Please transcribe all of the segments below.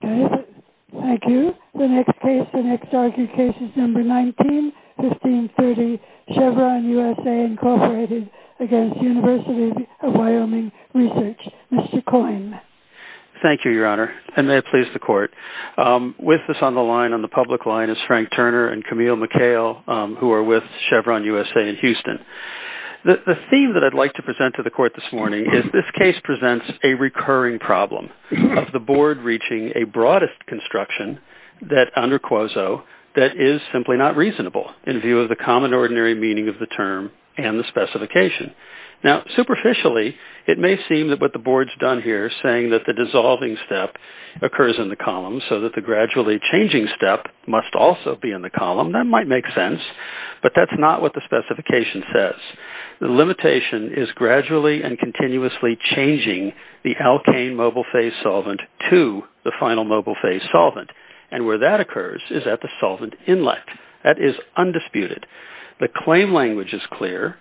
Thank you. The next case, the next argued case is number 19, 1530 Chevron U.S.A. Inc. v. University of Wyoming Research. Mr. Coyne. Thank you, Your Honor, and may it please the Court. With us on the line, on the public line, is Frank Turner and Camille McHale, who are with Chevron U.S.A. in Houston. The theme that I'd like to present to the Court this morning is this case presents a recurring problem of the Board reaching a broadest construction that, under quoso, that is simply not reasonable in view of the common ordinary meaning of the term and the specification. Now, superficially, it may seem that what the Board's done here is saying that the dissolving step occurs in the column so that the gradually changing step must also be in the column. That might make sense, but that's not what the specification says. The limitation is gradually and continuously changing the alkane mobile phase solvent to the final mobile phase solvent, and where that occurs is at the solvent inlet. That is undisputed. The claim language is clear.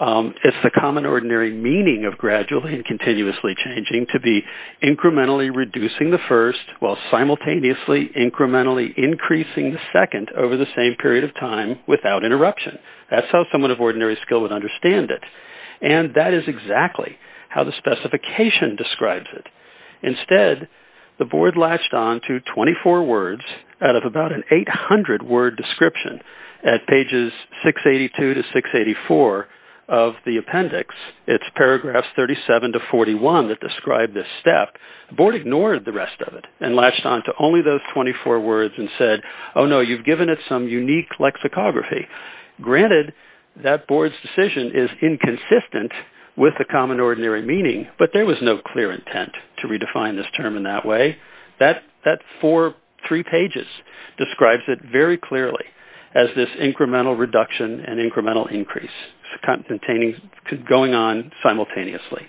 It's the common ordinary meaning of gradually and continuously changing to be incrementally reducing the first while simultaneously incrementally increasing the second over the same period of time without interruption. That's how someone of ordinary skill would understand it, and that is exactly how the specification describes it. Instead, the Board latched on to 24 words out of about an 800-word description at pages 682 to 684 of the appendix. It's paragraphs 37 to 41 that describe this step. The Board ignored the rest of it and latched on to only those 24 words and said, oh, no, you've given it some unique lexicography. Granted, that Board's decision is inconsistent with the common ordinary meaning, but there was no clear intent to redefine this term in that way. That four, three pages describes it very clearly as this incremental reduction and incremental increase going on simultaneously.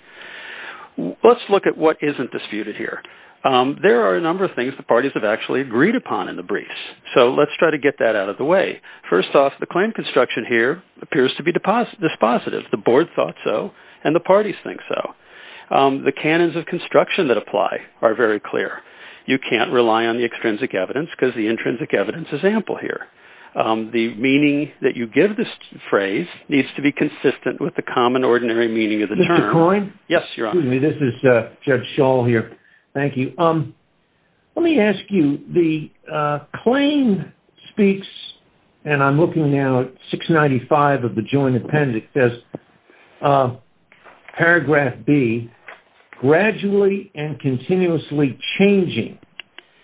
Let's look at what isn't disputed here. There are a number of things the parties have actually agreed upon in the briefs, so let's try to get that out of the way. First off, the claim construction here appears to be dispositive. The Board thought so, and the parties think so. The canons of construction that apply are very clear. You can't rely on the extrinsic evidence because the intrinsic evidence is ample here. The meaning that you give this phrase needs to be consistent with the common ordinary meaning of the term. Mr. Coyne? Yes, Your Honor. This is Judge Schall here. Thank you. Let me ask you, the claim speaks, and I'm looking now at 695 of the Joint Appendix, paragraph B, gradually and continuously changing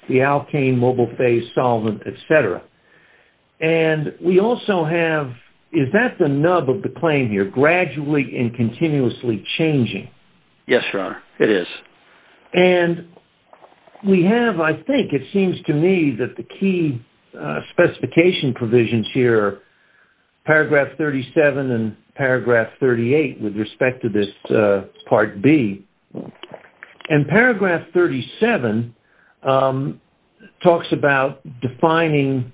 the alkane mobile phase solvent, et cetera. And we also have, is that the nub of the claim here, gradually and continuously changing? Yes, Your Honor, it is. And we have, I think, it seems to me, that the key specification provisions here, paragraph 37 and paragraph 38, with respect to this part B, and paragraph 37 talks about defining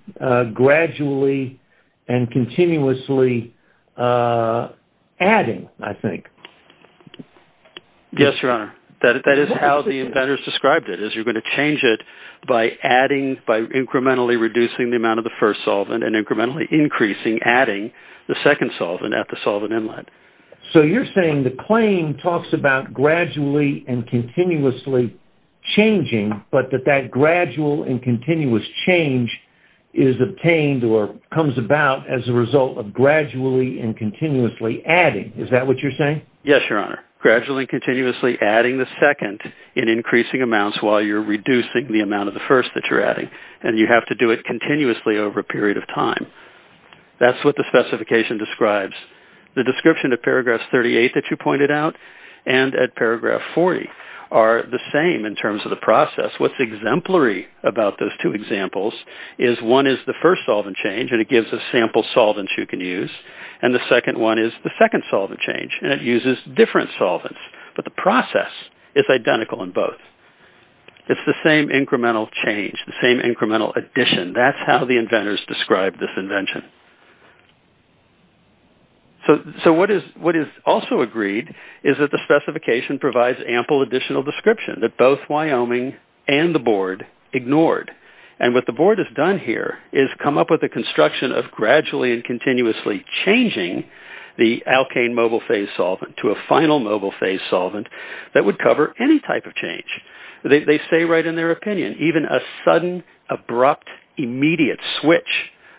gradually and continuously adding, I think. Yes, Your Honor. That is how the inventors described it, is you're going to change it by adding, by incrementally reducing the amount of the first solvent and incrementally increasing, adding the second solvent at the solvent inlet. So you're saying the claim talks about gradually and continuously changing, but that that gradual and continuous change is obtained or comes about as a result of gradually and continuously adding. Is that what you're saying? Yes, Your Honor. Gradually and continuously adding the second in increasing amounts while you're reducing the amount of the first that you're adding. And you have to do it continuously over a period of time. That's what the specification describes. The description of paragraph 38 that you pointed out and at paragraph 40 are the same in terms of the process. What's exemplary about those two examples is one is the first solvent change, and it gives a sample solvent you can use. And the second one is the second solvent change, and it uses different solvents. But the process is identical in both. It's the same incremental change, the same incremental addition. That's how the inventors described this invention. So what is also agreed is that the specification provides ample additional description that both Wyoming and the Board ignored. And what the Board has done here is come up with a construction of gradually and continuously changing the alkane mobile phase solvent to a final mobile phase solvent that would cover any type of change. They say right in their opinion, even a sudden, abrupt, immediate switch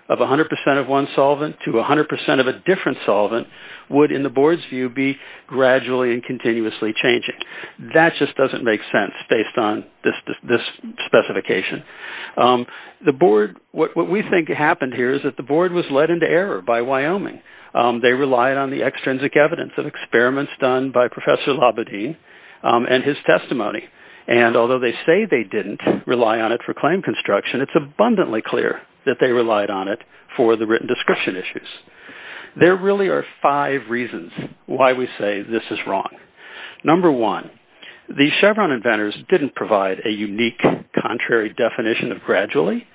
of 100% of one solvent to 100% of a different solvent would, in the Board's view, be gradually and continuously changing. That just doesn't make sense based on this specification. What we think happened here is that the Board was led into error by Wyoming. They relied on the extrinsic evidence of experiments done by Professor Labadee and his testimony. And although they say they didn't rely on it for claim construction, it's abundantly clear that they relied on it for the written description issues. There really are five reasons why we say this is wrong. Number one, the Chevron inventors didn't provide a unique, contrary definition of gradually.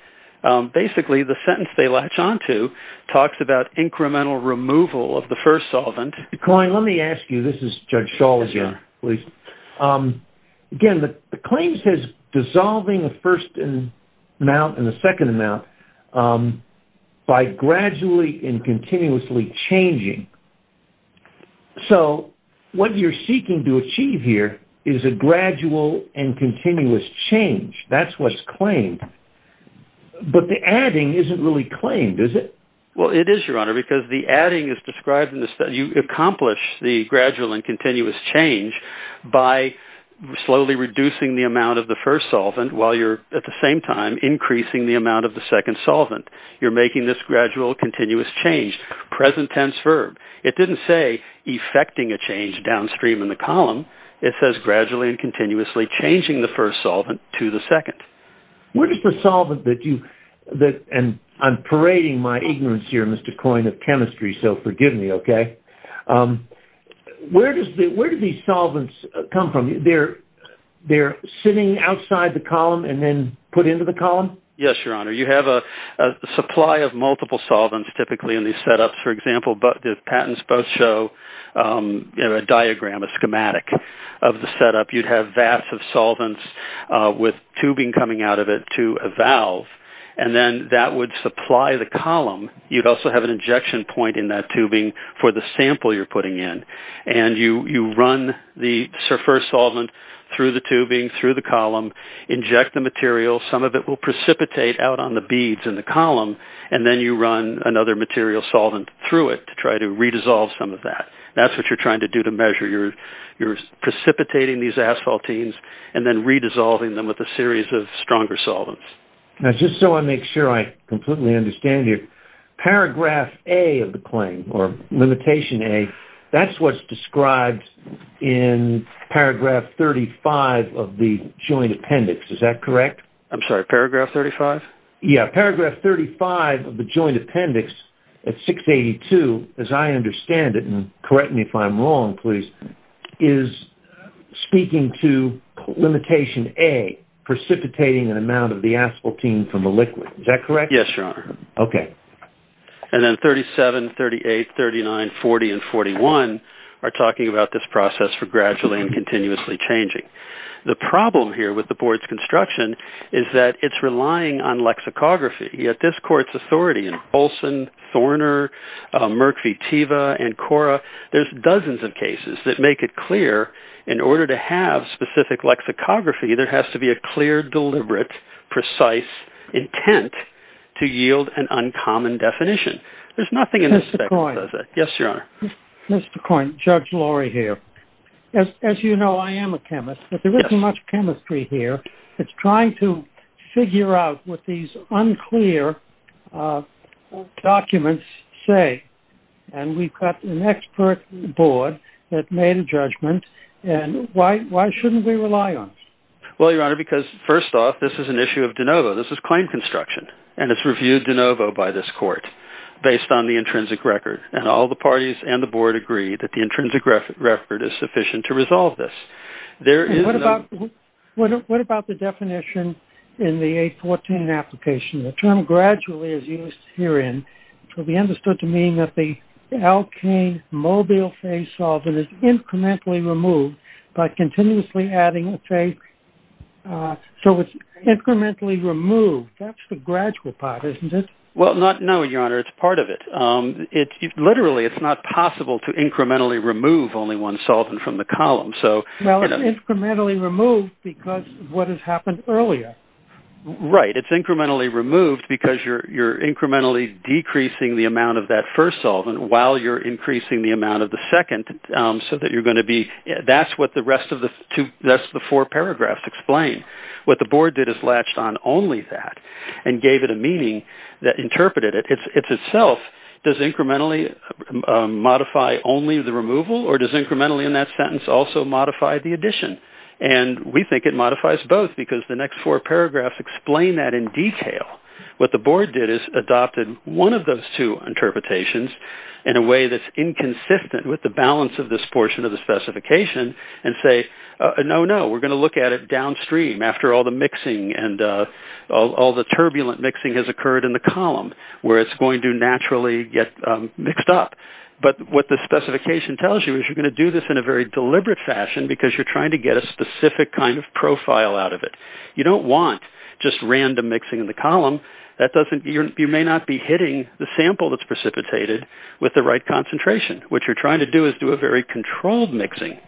Basically, the sentence they latch onto talks about incremental removal of the first solvent. Klein, let me ask you, this is Judge Schall again, please. Again, the claim says dissolving the first amount and the second amount by gradually and continuously changing. So, what you're seeking to achieve here is a gradual and continuous change. That's what's claimed. But the adding isn't really claimed, is it? Well, it is, Your Honor, because the adding is described in the study. You accomplish the gradual and continuous change by slowly reducing the amount of the first solvent while you're, at the same time, increasing the amount of the second solvent. You're making this gradual, continuous change. Present tense verb. It didn't say effecting a change downstream in the column. It says gradually and continuously changing the first solvent to the second. Where does the solvent that you – and I'm parading my ignorance here, Mr. Klein, of chemistry, so forgive me, okay? Where do these solvents come from? They're sitting outside the column and then put into the column? Yes, Your Honor. You have a supply of multiple solvents typically in these setups. For example, the patents both show a diagram, a schematic of the setup. You'd have vats of solvents with tubing coming out of it to a valve, and then that would supply the column. You'd also have an injection point in that tubing for the sample you're putting in. And you run the first solvent through the tubing, through the column, inject the material. Some of it will precipitate out on the beads in the column, and then you run another material solvent through it to try to re-dissolve some of that. That's what you're trying to do to measure. You're precipitating these asphaltenes and then re-dissolving them with a series of stronger solvents. Now, just so I make sure I completely understand here, paragraph A of the claim, or limitation A, that's what's described in paragraph 35 of the joint appendix, is that correct? I'm sorry, paragraph 35? Yeah, paragraph 35 of the joint appendix at 682, as I understand it, and correct me if I'm wrong, please, is speaking to limitation A, precipitating an amount of the asphaltene from the liquid. Is that correct? Yes, Your Honor. Okay. And then 37, 38, 39, 40, and 41 are talking about this process for gradually and continuously changing. The problem here with the Board's construction is that it's relying on lexicography. Yet this Court's authority in Olson, Thorner, Merck v. Teva, and Cora, there's dozens of cases that make it clear in order to have specific lexicography, there has to be a clear, deliberate, precise intent to yield an uncommon definition. There's nothing in this section that does that. Mr. Coyne. Yes, Your Honor. Mr. Coyne, Judge Laurie here. As you know, I am a chemist, but there isn't much chemistry here. It's trying to figure out what these unclear documents say. And we've got an expert Board that made a judgment, and why shouldn't we rely on it? Well, Your Honor, because first off, this is an issue of de novo. This is claim construction, and it's reviewed de novo by this Court based on the intrinsic record. And all the parties and the Board agree that the intrinsic record is sufficient to resolve this. What about the definition in the 814 application? The term gradually is used herein to be understood to mean that the alkane mobile phase solvent is incrementally removed by continuously adding a phase. So it's incrementally removed. That's the gradual part, isn't it? Well, no, Your Honor, it's part of it. Literally, it's not possible to incrementally remove only one solvent from the column. Well, it's incrementally removed because of what has happened earlier. Right, it's incrementally removed because you're incrementally decreasing the amount of that first solvent while you're increasing the amount of the second so that you're going to be ‑‑ that's what the rest of the four paragraphs explain. What the Board did is latched on only that and gave it a meaning that interpreted it. It's itself, does incrementally modify only the removal, or does incrementally in that sentence also modify the addition? And we think it modifies both because the next four paragraphs explain that in detail. What the Board did is adopted one of those two interpretations in a way that's inconsistent with the balance of this portion of the specification and say, no, no, we're going to look at it downstream after all the mixing and all the turbulent mixing has occurred in the column where it's going to naturally get mixed up. But what the specification tells you is you're going to do this in a very deliberate fashion because you're trying to get a specific kind of profile out of it. You don't want just random mixing in the column. You may not be hitting the sample that's precipitated with the right concentration. What you're trying to do is do a very controlled mixing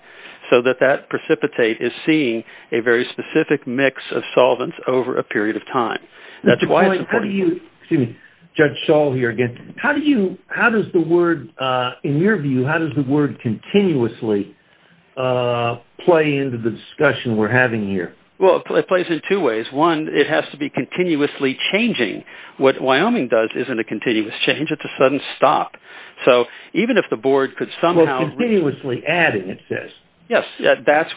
so that that precipitate is seeing a very specific mix of solvents over a period of time. Excuse me, Judge Shaw here again. How does the word, in your view, how does the word continuously play into the discussion we're having here? Well, it plays in two ways. One, it has to be continuously changing. What Wyoming does isn't a continuous change. It's a sudden stop. So even if the Board could somehow… Well, continuously adding it says. Yes, that's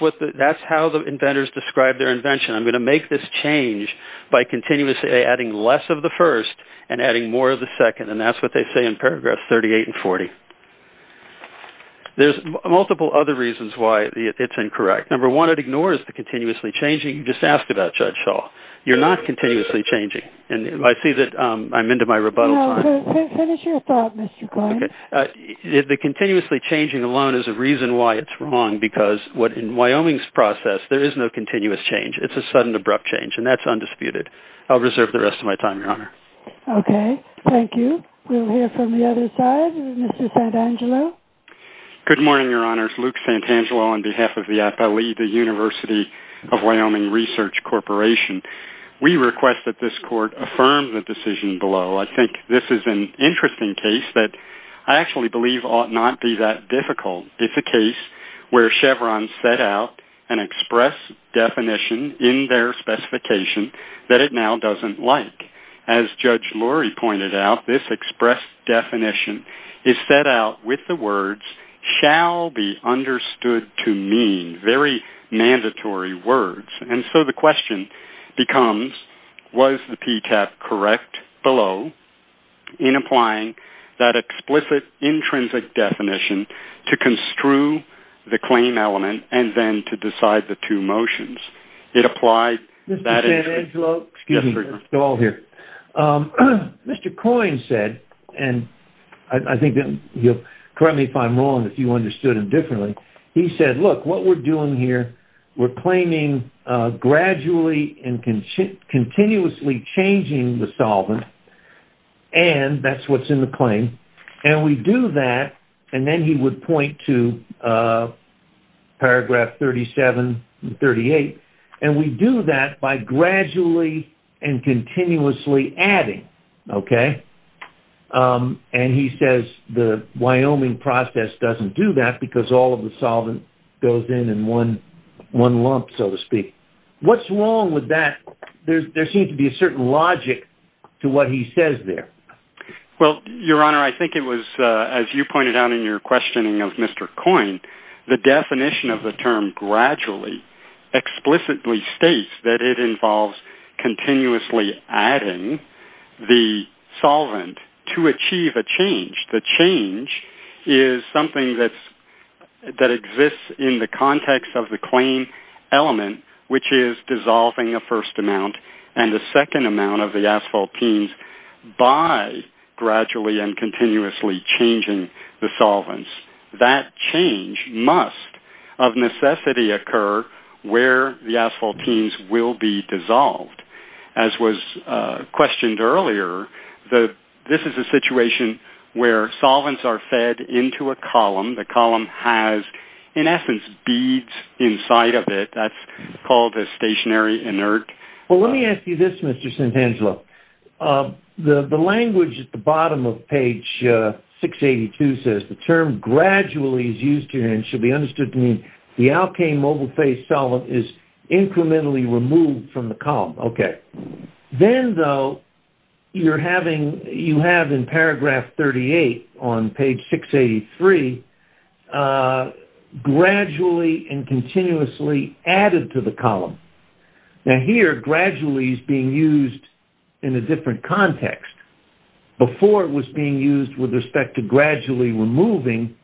how the inventors describe their invention. I'm going to make this change by continuously adding less of the first and adding more of the second, and that's what they say in paragraphs 38 and 40. There's multiple other reasons why it's incorrect. Number one, it ignores the continuously changing. You just ask about Judge Shaw. You're not continuously changing, and I see that I'm into my rebuttal time. No, finish your thought, Mr. Glenn. Okay. The continuously changing alone is a reason why it's wrong because what in Wyoming's process, there is no continuous change. It's a sudden, abrupt change, and that's undisputed. I'll reserve the rest of my time, Your Honor. Okay. Thank you. We'll hear from the other side. Mr. Santangelo? Good morning, Your Honors. Luke Santangelo on behalf of the IFALE, the University of Wyoming Research Corporation. We request that this Court affirm the decision below. I think this is an interesting case that I actually believe ought not be that difficult. It's a case where Chevron set out an express definition in their specification that it now doesn't like. As Judge Lurie pointed out, this express definition is set out with the words, shall be understood to mean, very mandatory words. And so the question becomes, was the PTAP correct below in applying that explicit, intrinsic definition to construe the claim element and then to decide the two motions? It applied that... Mr. Santangelo? Excuse me. Go all here. Mr. Coyne said, and I think you'll correct me if I'm wrong if you understood him differently. He said, look, what we're doing here, we're claiming gradually and continuously changing the solvent, and that's what's in the claim. And we do that, and then he would point to paragraph 37 and 38, and we do that by gradually and continuously adding, okay? And he says the Wyoming process doesn't do that because all of the solvent goes in in one lump, so to speak. What's wrong with that? There seems to be a certain logic to what he says there. Well, Your Honor, I think it was, as you pointed out in your questioning of Mr. Coyne, the definition of the term gradually explicitly states that it involves continuously adding the solvent to achieve a change. The change is something that exists in the context of the claim element, which is dissolving a first amount and a second amount of the asphaltenes by gradually and continuously changing the solvents. That change must of necessity occur where the asphaltenes will be dissolved. As was questioned earlier, this is a situation where solvents are fed into a column. The column has, in essence, beads inside of it. That's called a stationary inert. Well, let me ask you this, Mr. Santangelo. The language at the bottom of page 682 says the term gradually is used here and should be understood to mean the alkane mobile phase solvent is incrementally removed from the column. Then, though, you have in paragraph 38 on page 683, gradually and continuously added to the column. Now here, gradually is being used in a different context. Before it was being used with respect to gradually removing.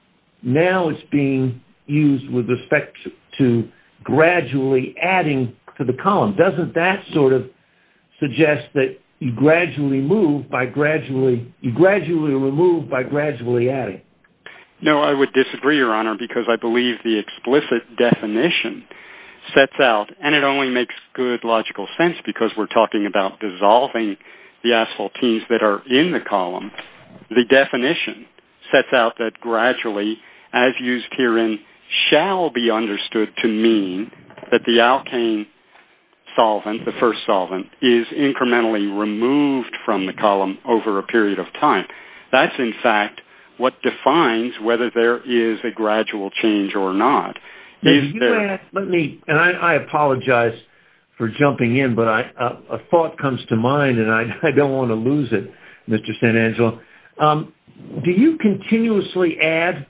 Now it's being used with respect to gradually adding to the column. Doesn't that sort of suggest that you gradually remove by gradually adding? No, I would disagree, Your Honor, because I believe the explicit definition sets out, and it only makes good logical sense because we're talking about dissolving the asphaltenes that are in the column. The definition sets out that gradually, as used herein, shall be understood to mean that the alkane solvent, the first solvent, is incrementally removed from the column over a period of time. That's, in fact, what defines whether there is a gradual change or not. Let me, and I apologize for jumping in, but a thought comes to mind, and I don't want to lose it, Mr. Santangelo. Do you continuously add?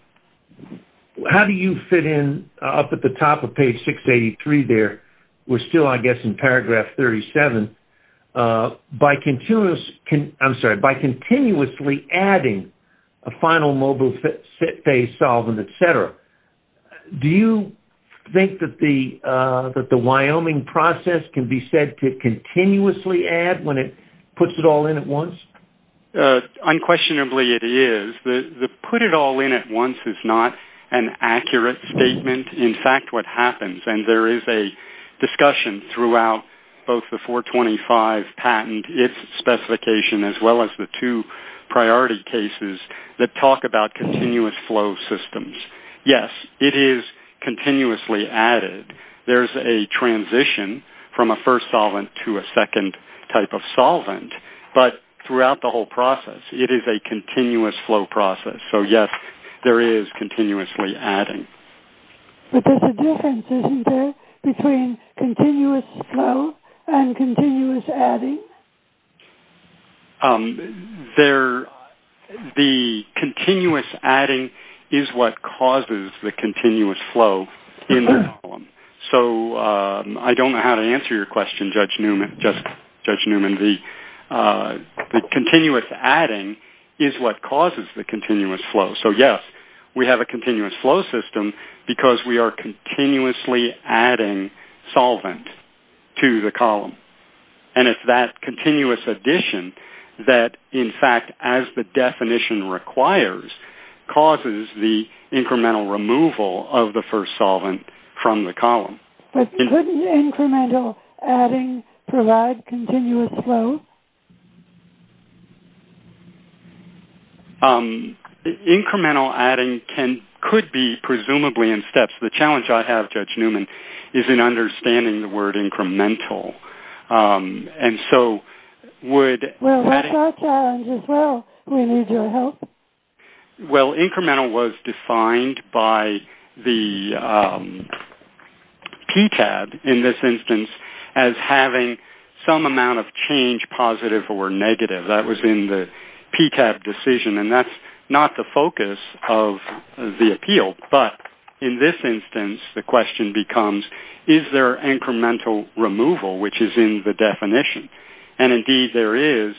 How do you fit in up at the top of page 683 there? We're still, I guess, in paragraph 37. By continuously adding a final mobile phase solvent, et cetera, do you think that the Wyoming process can be said to continuously add when it puts it all in at once? Unquestionably, it is. The put it all in at once is not an accurate statement. In fact, what happens, and there is a discussion throughout both the 425 patent, its specification, as well as the two priority cases that talk about continuous flow systems. Yes, it is continuously added. There's a transition from a first solvent to a second type of solvent, but throughout the whole process, it is a continuous flow process. So, yes, there is continuously adding. But there's a difference, isn't there, between continuous flow and continuous adding? The continuous adding is what causes the continuous flow in the column. So I don't know how to answer your question, Judge Newman, just Judge Newman. The continuous adding is what causes the continuous flow. So, yes, we have a continuous flow system because we are continuously adding solvent to the column. And it's that continuous addition that, in fact, as the definition requires, causes the incremental removal of the first solvent from the column. But couldn't incremental adding provide continuous flow? Incremental adding could be presumably in steps. The challenge I have, Judge Newman, is in understanding the word incremental. And so would adding- Well, what's our challenge as well? We need your help. Well, incremental was defined by the PTAB, in this instance, as having some amount of change, positive or negative. That was in the PTAB decision. And that's not the focus of the appeal. But in this instance, the question becomes, is there incremental removal, which is in the definition? And, indeed, there is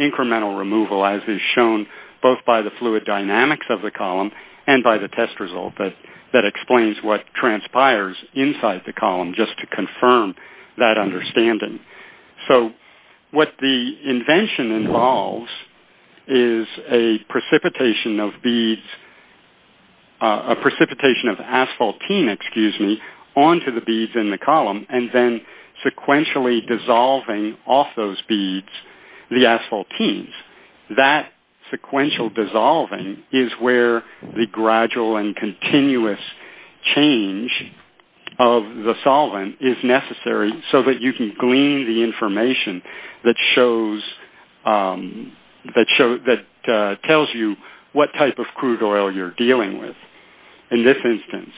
incremental removal, as is shown both by the fluid dynamics of the column and by the test result that explains what transpires inside the column, just to confirm that understanding. So what the invention involves is a precipitation of beads, a precipitation of asphaltene, excuse me, onto the beads in the column and then sequentially dissolving off those beads the asphaltenes. That sequential dissolving is where the gradual and continuous change of the solvent is necessary so that you can glean the information that tells you what type of crude oil you're dealing with. In this instance,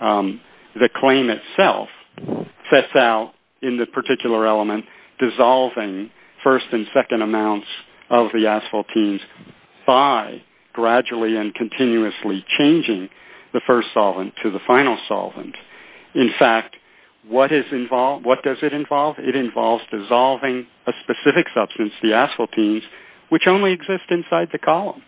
the claim itself sets out, in the particular element, dissolving first and second amounts of the asphaltenes by gradually and continuously changing the first solvent to the final solvent. In fact, what does it involve? It involves dissolving a specific substance, the asphaltenes, which only exist inside the column.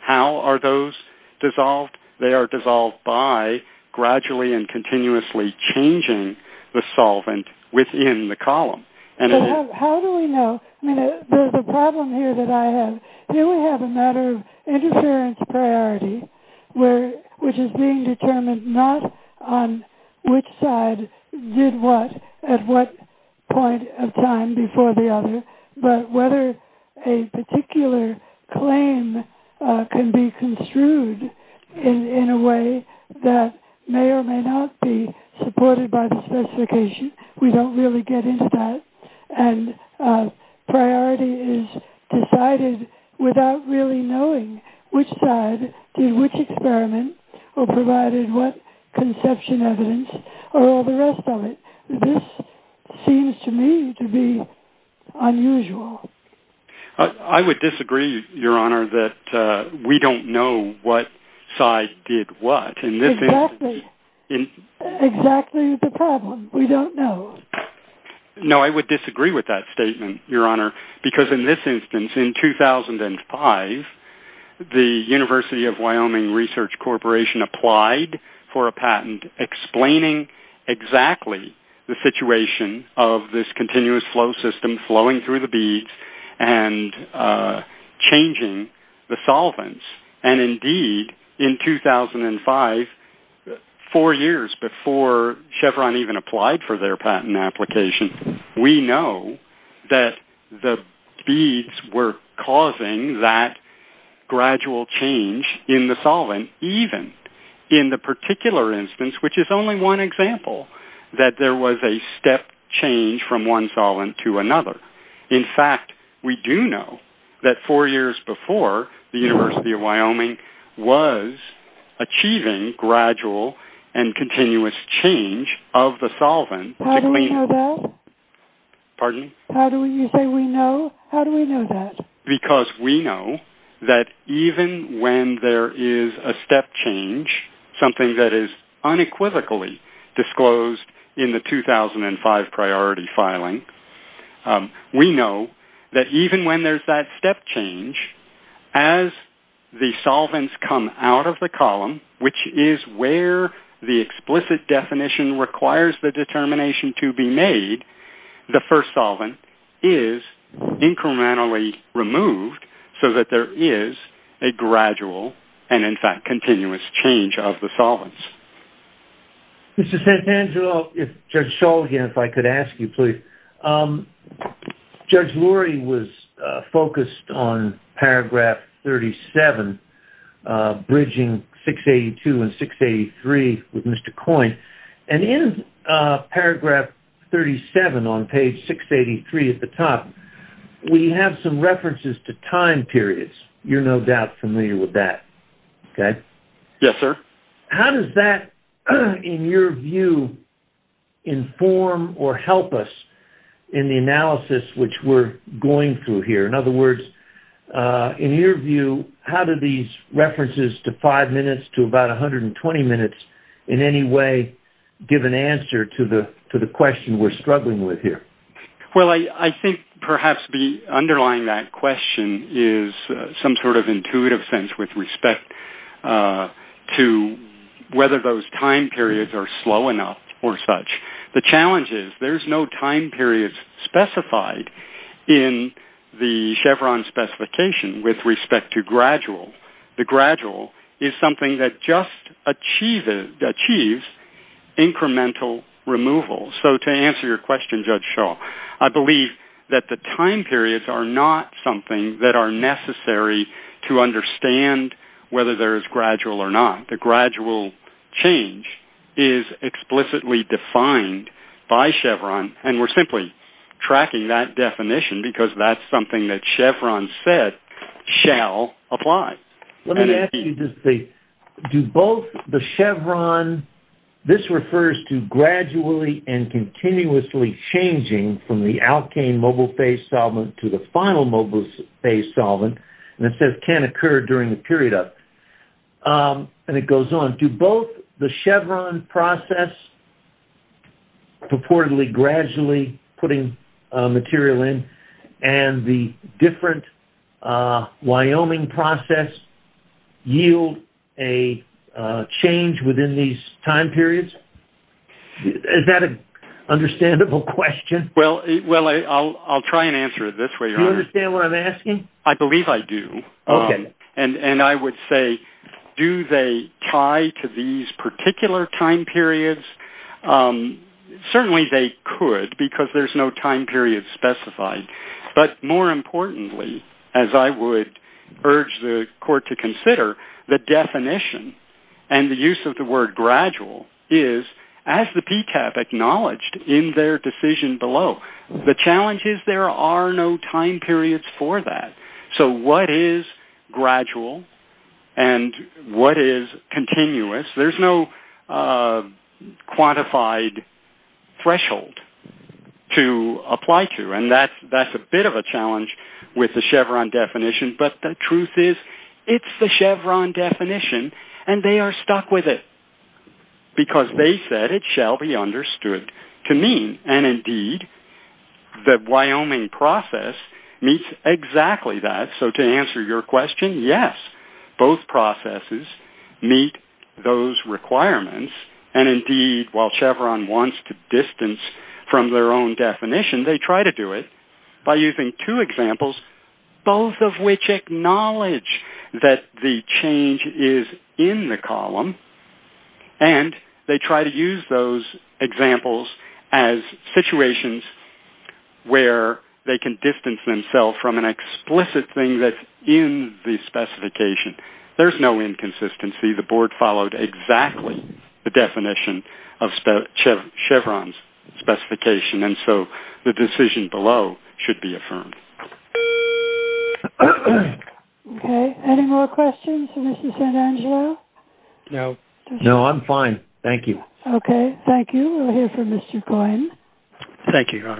How are those dissolved? They are dissolved by gradually and continuously changing the solvent within the column. How do we know? I mean, the problem here that I have, here we have a matter of interference priority, which is being determined not on which side did what at what point of time before the other, but whether a particular claim can be construed in a way that may or may not be supported by the specification. We don't really get into that. And priority is decided without really knowing which side did which experiment or provided what conception evidence or all the rest of it. This seems to me to be unusual. I would disagree, Your Honor, that we don't know what side did what. Exactly. Exactly the problem. We don't know. No, I would disagree with that statement, Your Honor, because in this instance, in 2005, the University of Wyoming Research Corporation applied for a patent explaining exactly the situation of this continuous flow system flowing through the beads and changing the solvents. And, indeed, in 2005, four years before Chevron even applied for their patent application, we know that the beads were causing that gradual change in the solvent, even in the particular instance, which is only one example, that there was a step change from one solvent to another. In fact, we do know that four years before, the University of Wyoming was achieving gradual and continuous change of the solvent. How do we know that? Pardon? How do you say we know? How do we know that? Because we know that even when there is a step change, something that is unequivocally disclosed in the 2005 priority filing, we know that even when there's that step change, as the solvents come out of the column, which is where the explicit definition requires the determination to be made, the first solvent is incrementally removed so that there is a gradual and, in fact, continuous change of the solvents. Mr. Santangelo, if Judge Scholl, again, if I could ask you, please. Judge Lurie was focused on paragraph 37, bridging 682 and 683 with Mr. Coyne, and in paragraph 37 on page 683 at the top, we have some references to time periods. You're no doubt familiar with that, okay? Yes, sir. How does that, in your view, inform or help us in the analysis which we're going through here? In other words, in your view, how do these references to five minutes to about 120 minutes in any way give an answer to the question we're struggling with here? Well, I think perhaps underlying that question is some sort of intuitive sense with respect to whether those time periods are slow enough or such. The challenge is there's no time period specified in the Chevron specification with respect to gradual. The gradual is something that just achieves incremental removal. So to answer your question, Judge Scholl, I believe that the time periods are not something that are necessary to understand whether there is gradual or not. The gradual change is explicitly defined by Chevron, and we're simply tracking that definition because that's something that Chevron said shall apply. Let me ask you just a... Do both the Chevron... This refers to gradually and continuously changing from the alkane mobile phase solvent to the final mobile phase solvent, and it says can occur during the period of... And it goes on. Do both the Chevron process, purportedly gradually putting material in, and the different Wyoming process yield a change within these time periods? Is that an understandable question? Well, I'll try and answer it this way, Your Honor. Do you understand what I'm asking? I believe I do. Okay. And I would say do they tie to these particular time periods? Certainly they could because there's no time period specified. But more importantly, as I would urge the court to consider, the definition and the use of the word gradual is, as the PTAP acknowledged in their decision below, the challenge is there are no time periods for that. So what is gradual and what is continuous? There's no quantified threshold to apply to, and that's a bit of a challenge with the Chevron definition. But the truth is it's the Chevron definition, and they are stuck with it because they said it shall be understood to mean, and indeed, the Wyoming process meets exactly that. So to answer your question, yes, both processes meet those requirements. And indeed, while Chevron wants to distance from their own definition, they try to do it by using two examples, both of which acknowledge that the change is in the column, and they try to use those examples as situations where they can distance themselves from an explicit thing that's in the specification. There's no inconsistency. The board followed exactly the definition of Chevron's specification, and so the decision below should be affirmed. Okay. Any more questions for Mr. Santangelo? No. No, I'm fine. Thank you. Thank you. We'll hear from Mr. Coyne. Thank you, Your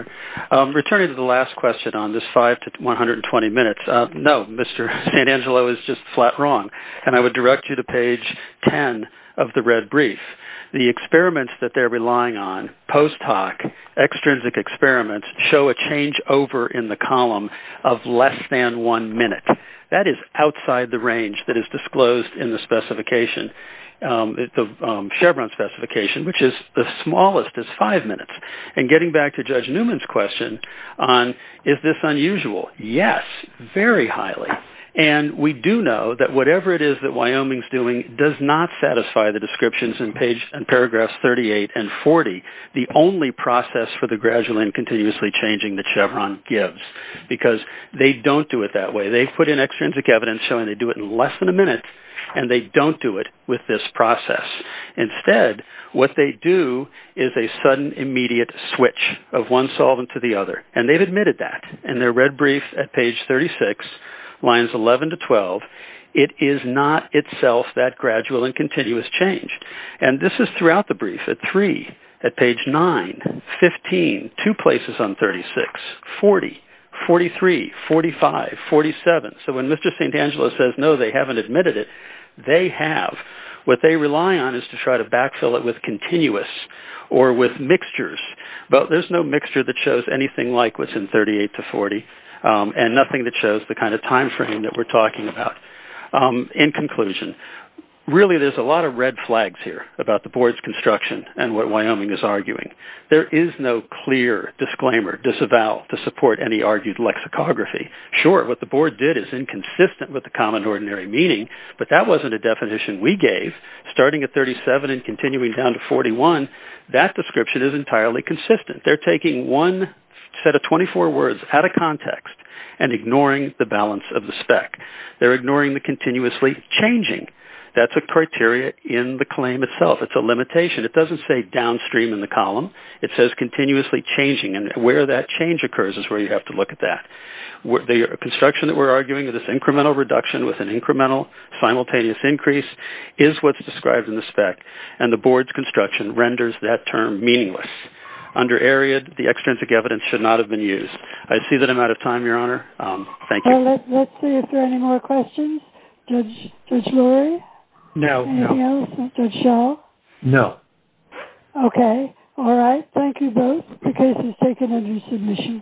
Honor. Returning to the last question on this five to 120 minutes, no, Mr. Santangelo is just flat wrong, and I would direct you to page 10 of the red brief. The experiments that they're relying on, post hoc, extrinsic experiments show a change over in the column of less than one minute. That is outside the range that is disclosed in the specification, the Chevron specification, which is the smallest is five minutes. And getting back to Judge Newman's question on is this unusual, yes, very highly. And we do know that whatever it is that Wyoming's doing does not satisfy the descriptions in paragraphs 38 and 40, the only process for the gradual and continuously changing that Chevron gives, because they don't do it that way. They put in extrinsic evidence showing they do it in less than a minute, and they don't do it with this process. Instead, what they do is a sudden, immediate switch of one solvent to the other, and they've admitted that in their red brief at page 36, lines 11 to 12. It is not itself that gradual and continuous change. And this is throughout the brief at three, at page nine, 15, two places on 36, 40, 43, 45, 47. So when Mr. Santangelo says, no, they haven't admitted it, they have. What they rely on is to try to backfill it with continuous or with mixtures. But there's no mixture that shows anything like what's in 38 to 40, and nothing that shows the kind of time frame that we're talking about. In conclusion, really there's a lot of red flags here about the board's construction and what Wyoming is arguing. There is no clear disclaimer, disavow, to support any argued lexicography. Sure, what the board did is inconsistent with the common ordinary meaning, but that wasn't a definition we gave. Starting at 37 and continuing down to 41, that description is entirely consistent. They're taking one set of 24 words out of context and ignoring the balance of the spec. They're ignoring the continuously changing. That's a criteria in the claim itself. It's a limitation. It doesn't say downstream in the column. It says continuously changing, and where that change occurs is where you have to look at that. The construction that we're arguing is this incremental reduction with an incremental simultaneous increase is what's described in the spec, and the board's construction renders that term meaningless. Under AREAD, the extrinsic evidence should not have been used. I see that I'm out of time, Your Honor. Thank you. Let's see if there are any more questions. Judge Lurie? No. Anything else? Judge Shaw? No. Okay. All right. Thank you both. The case is taken under submission.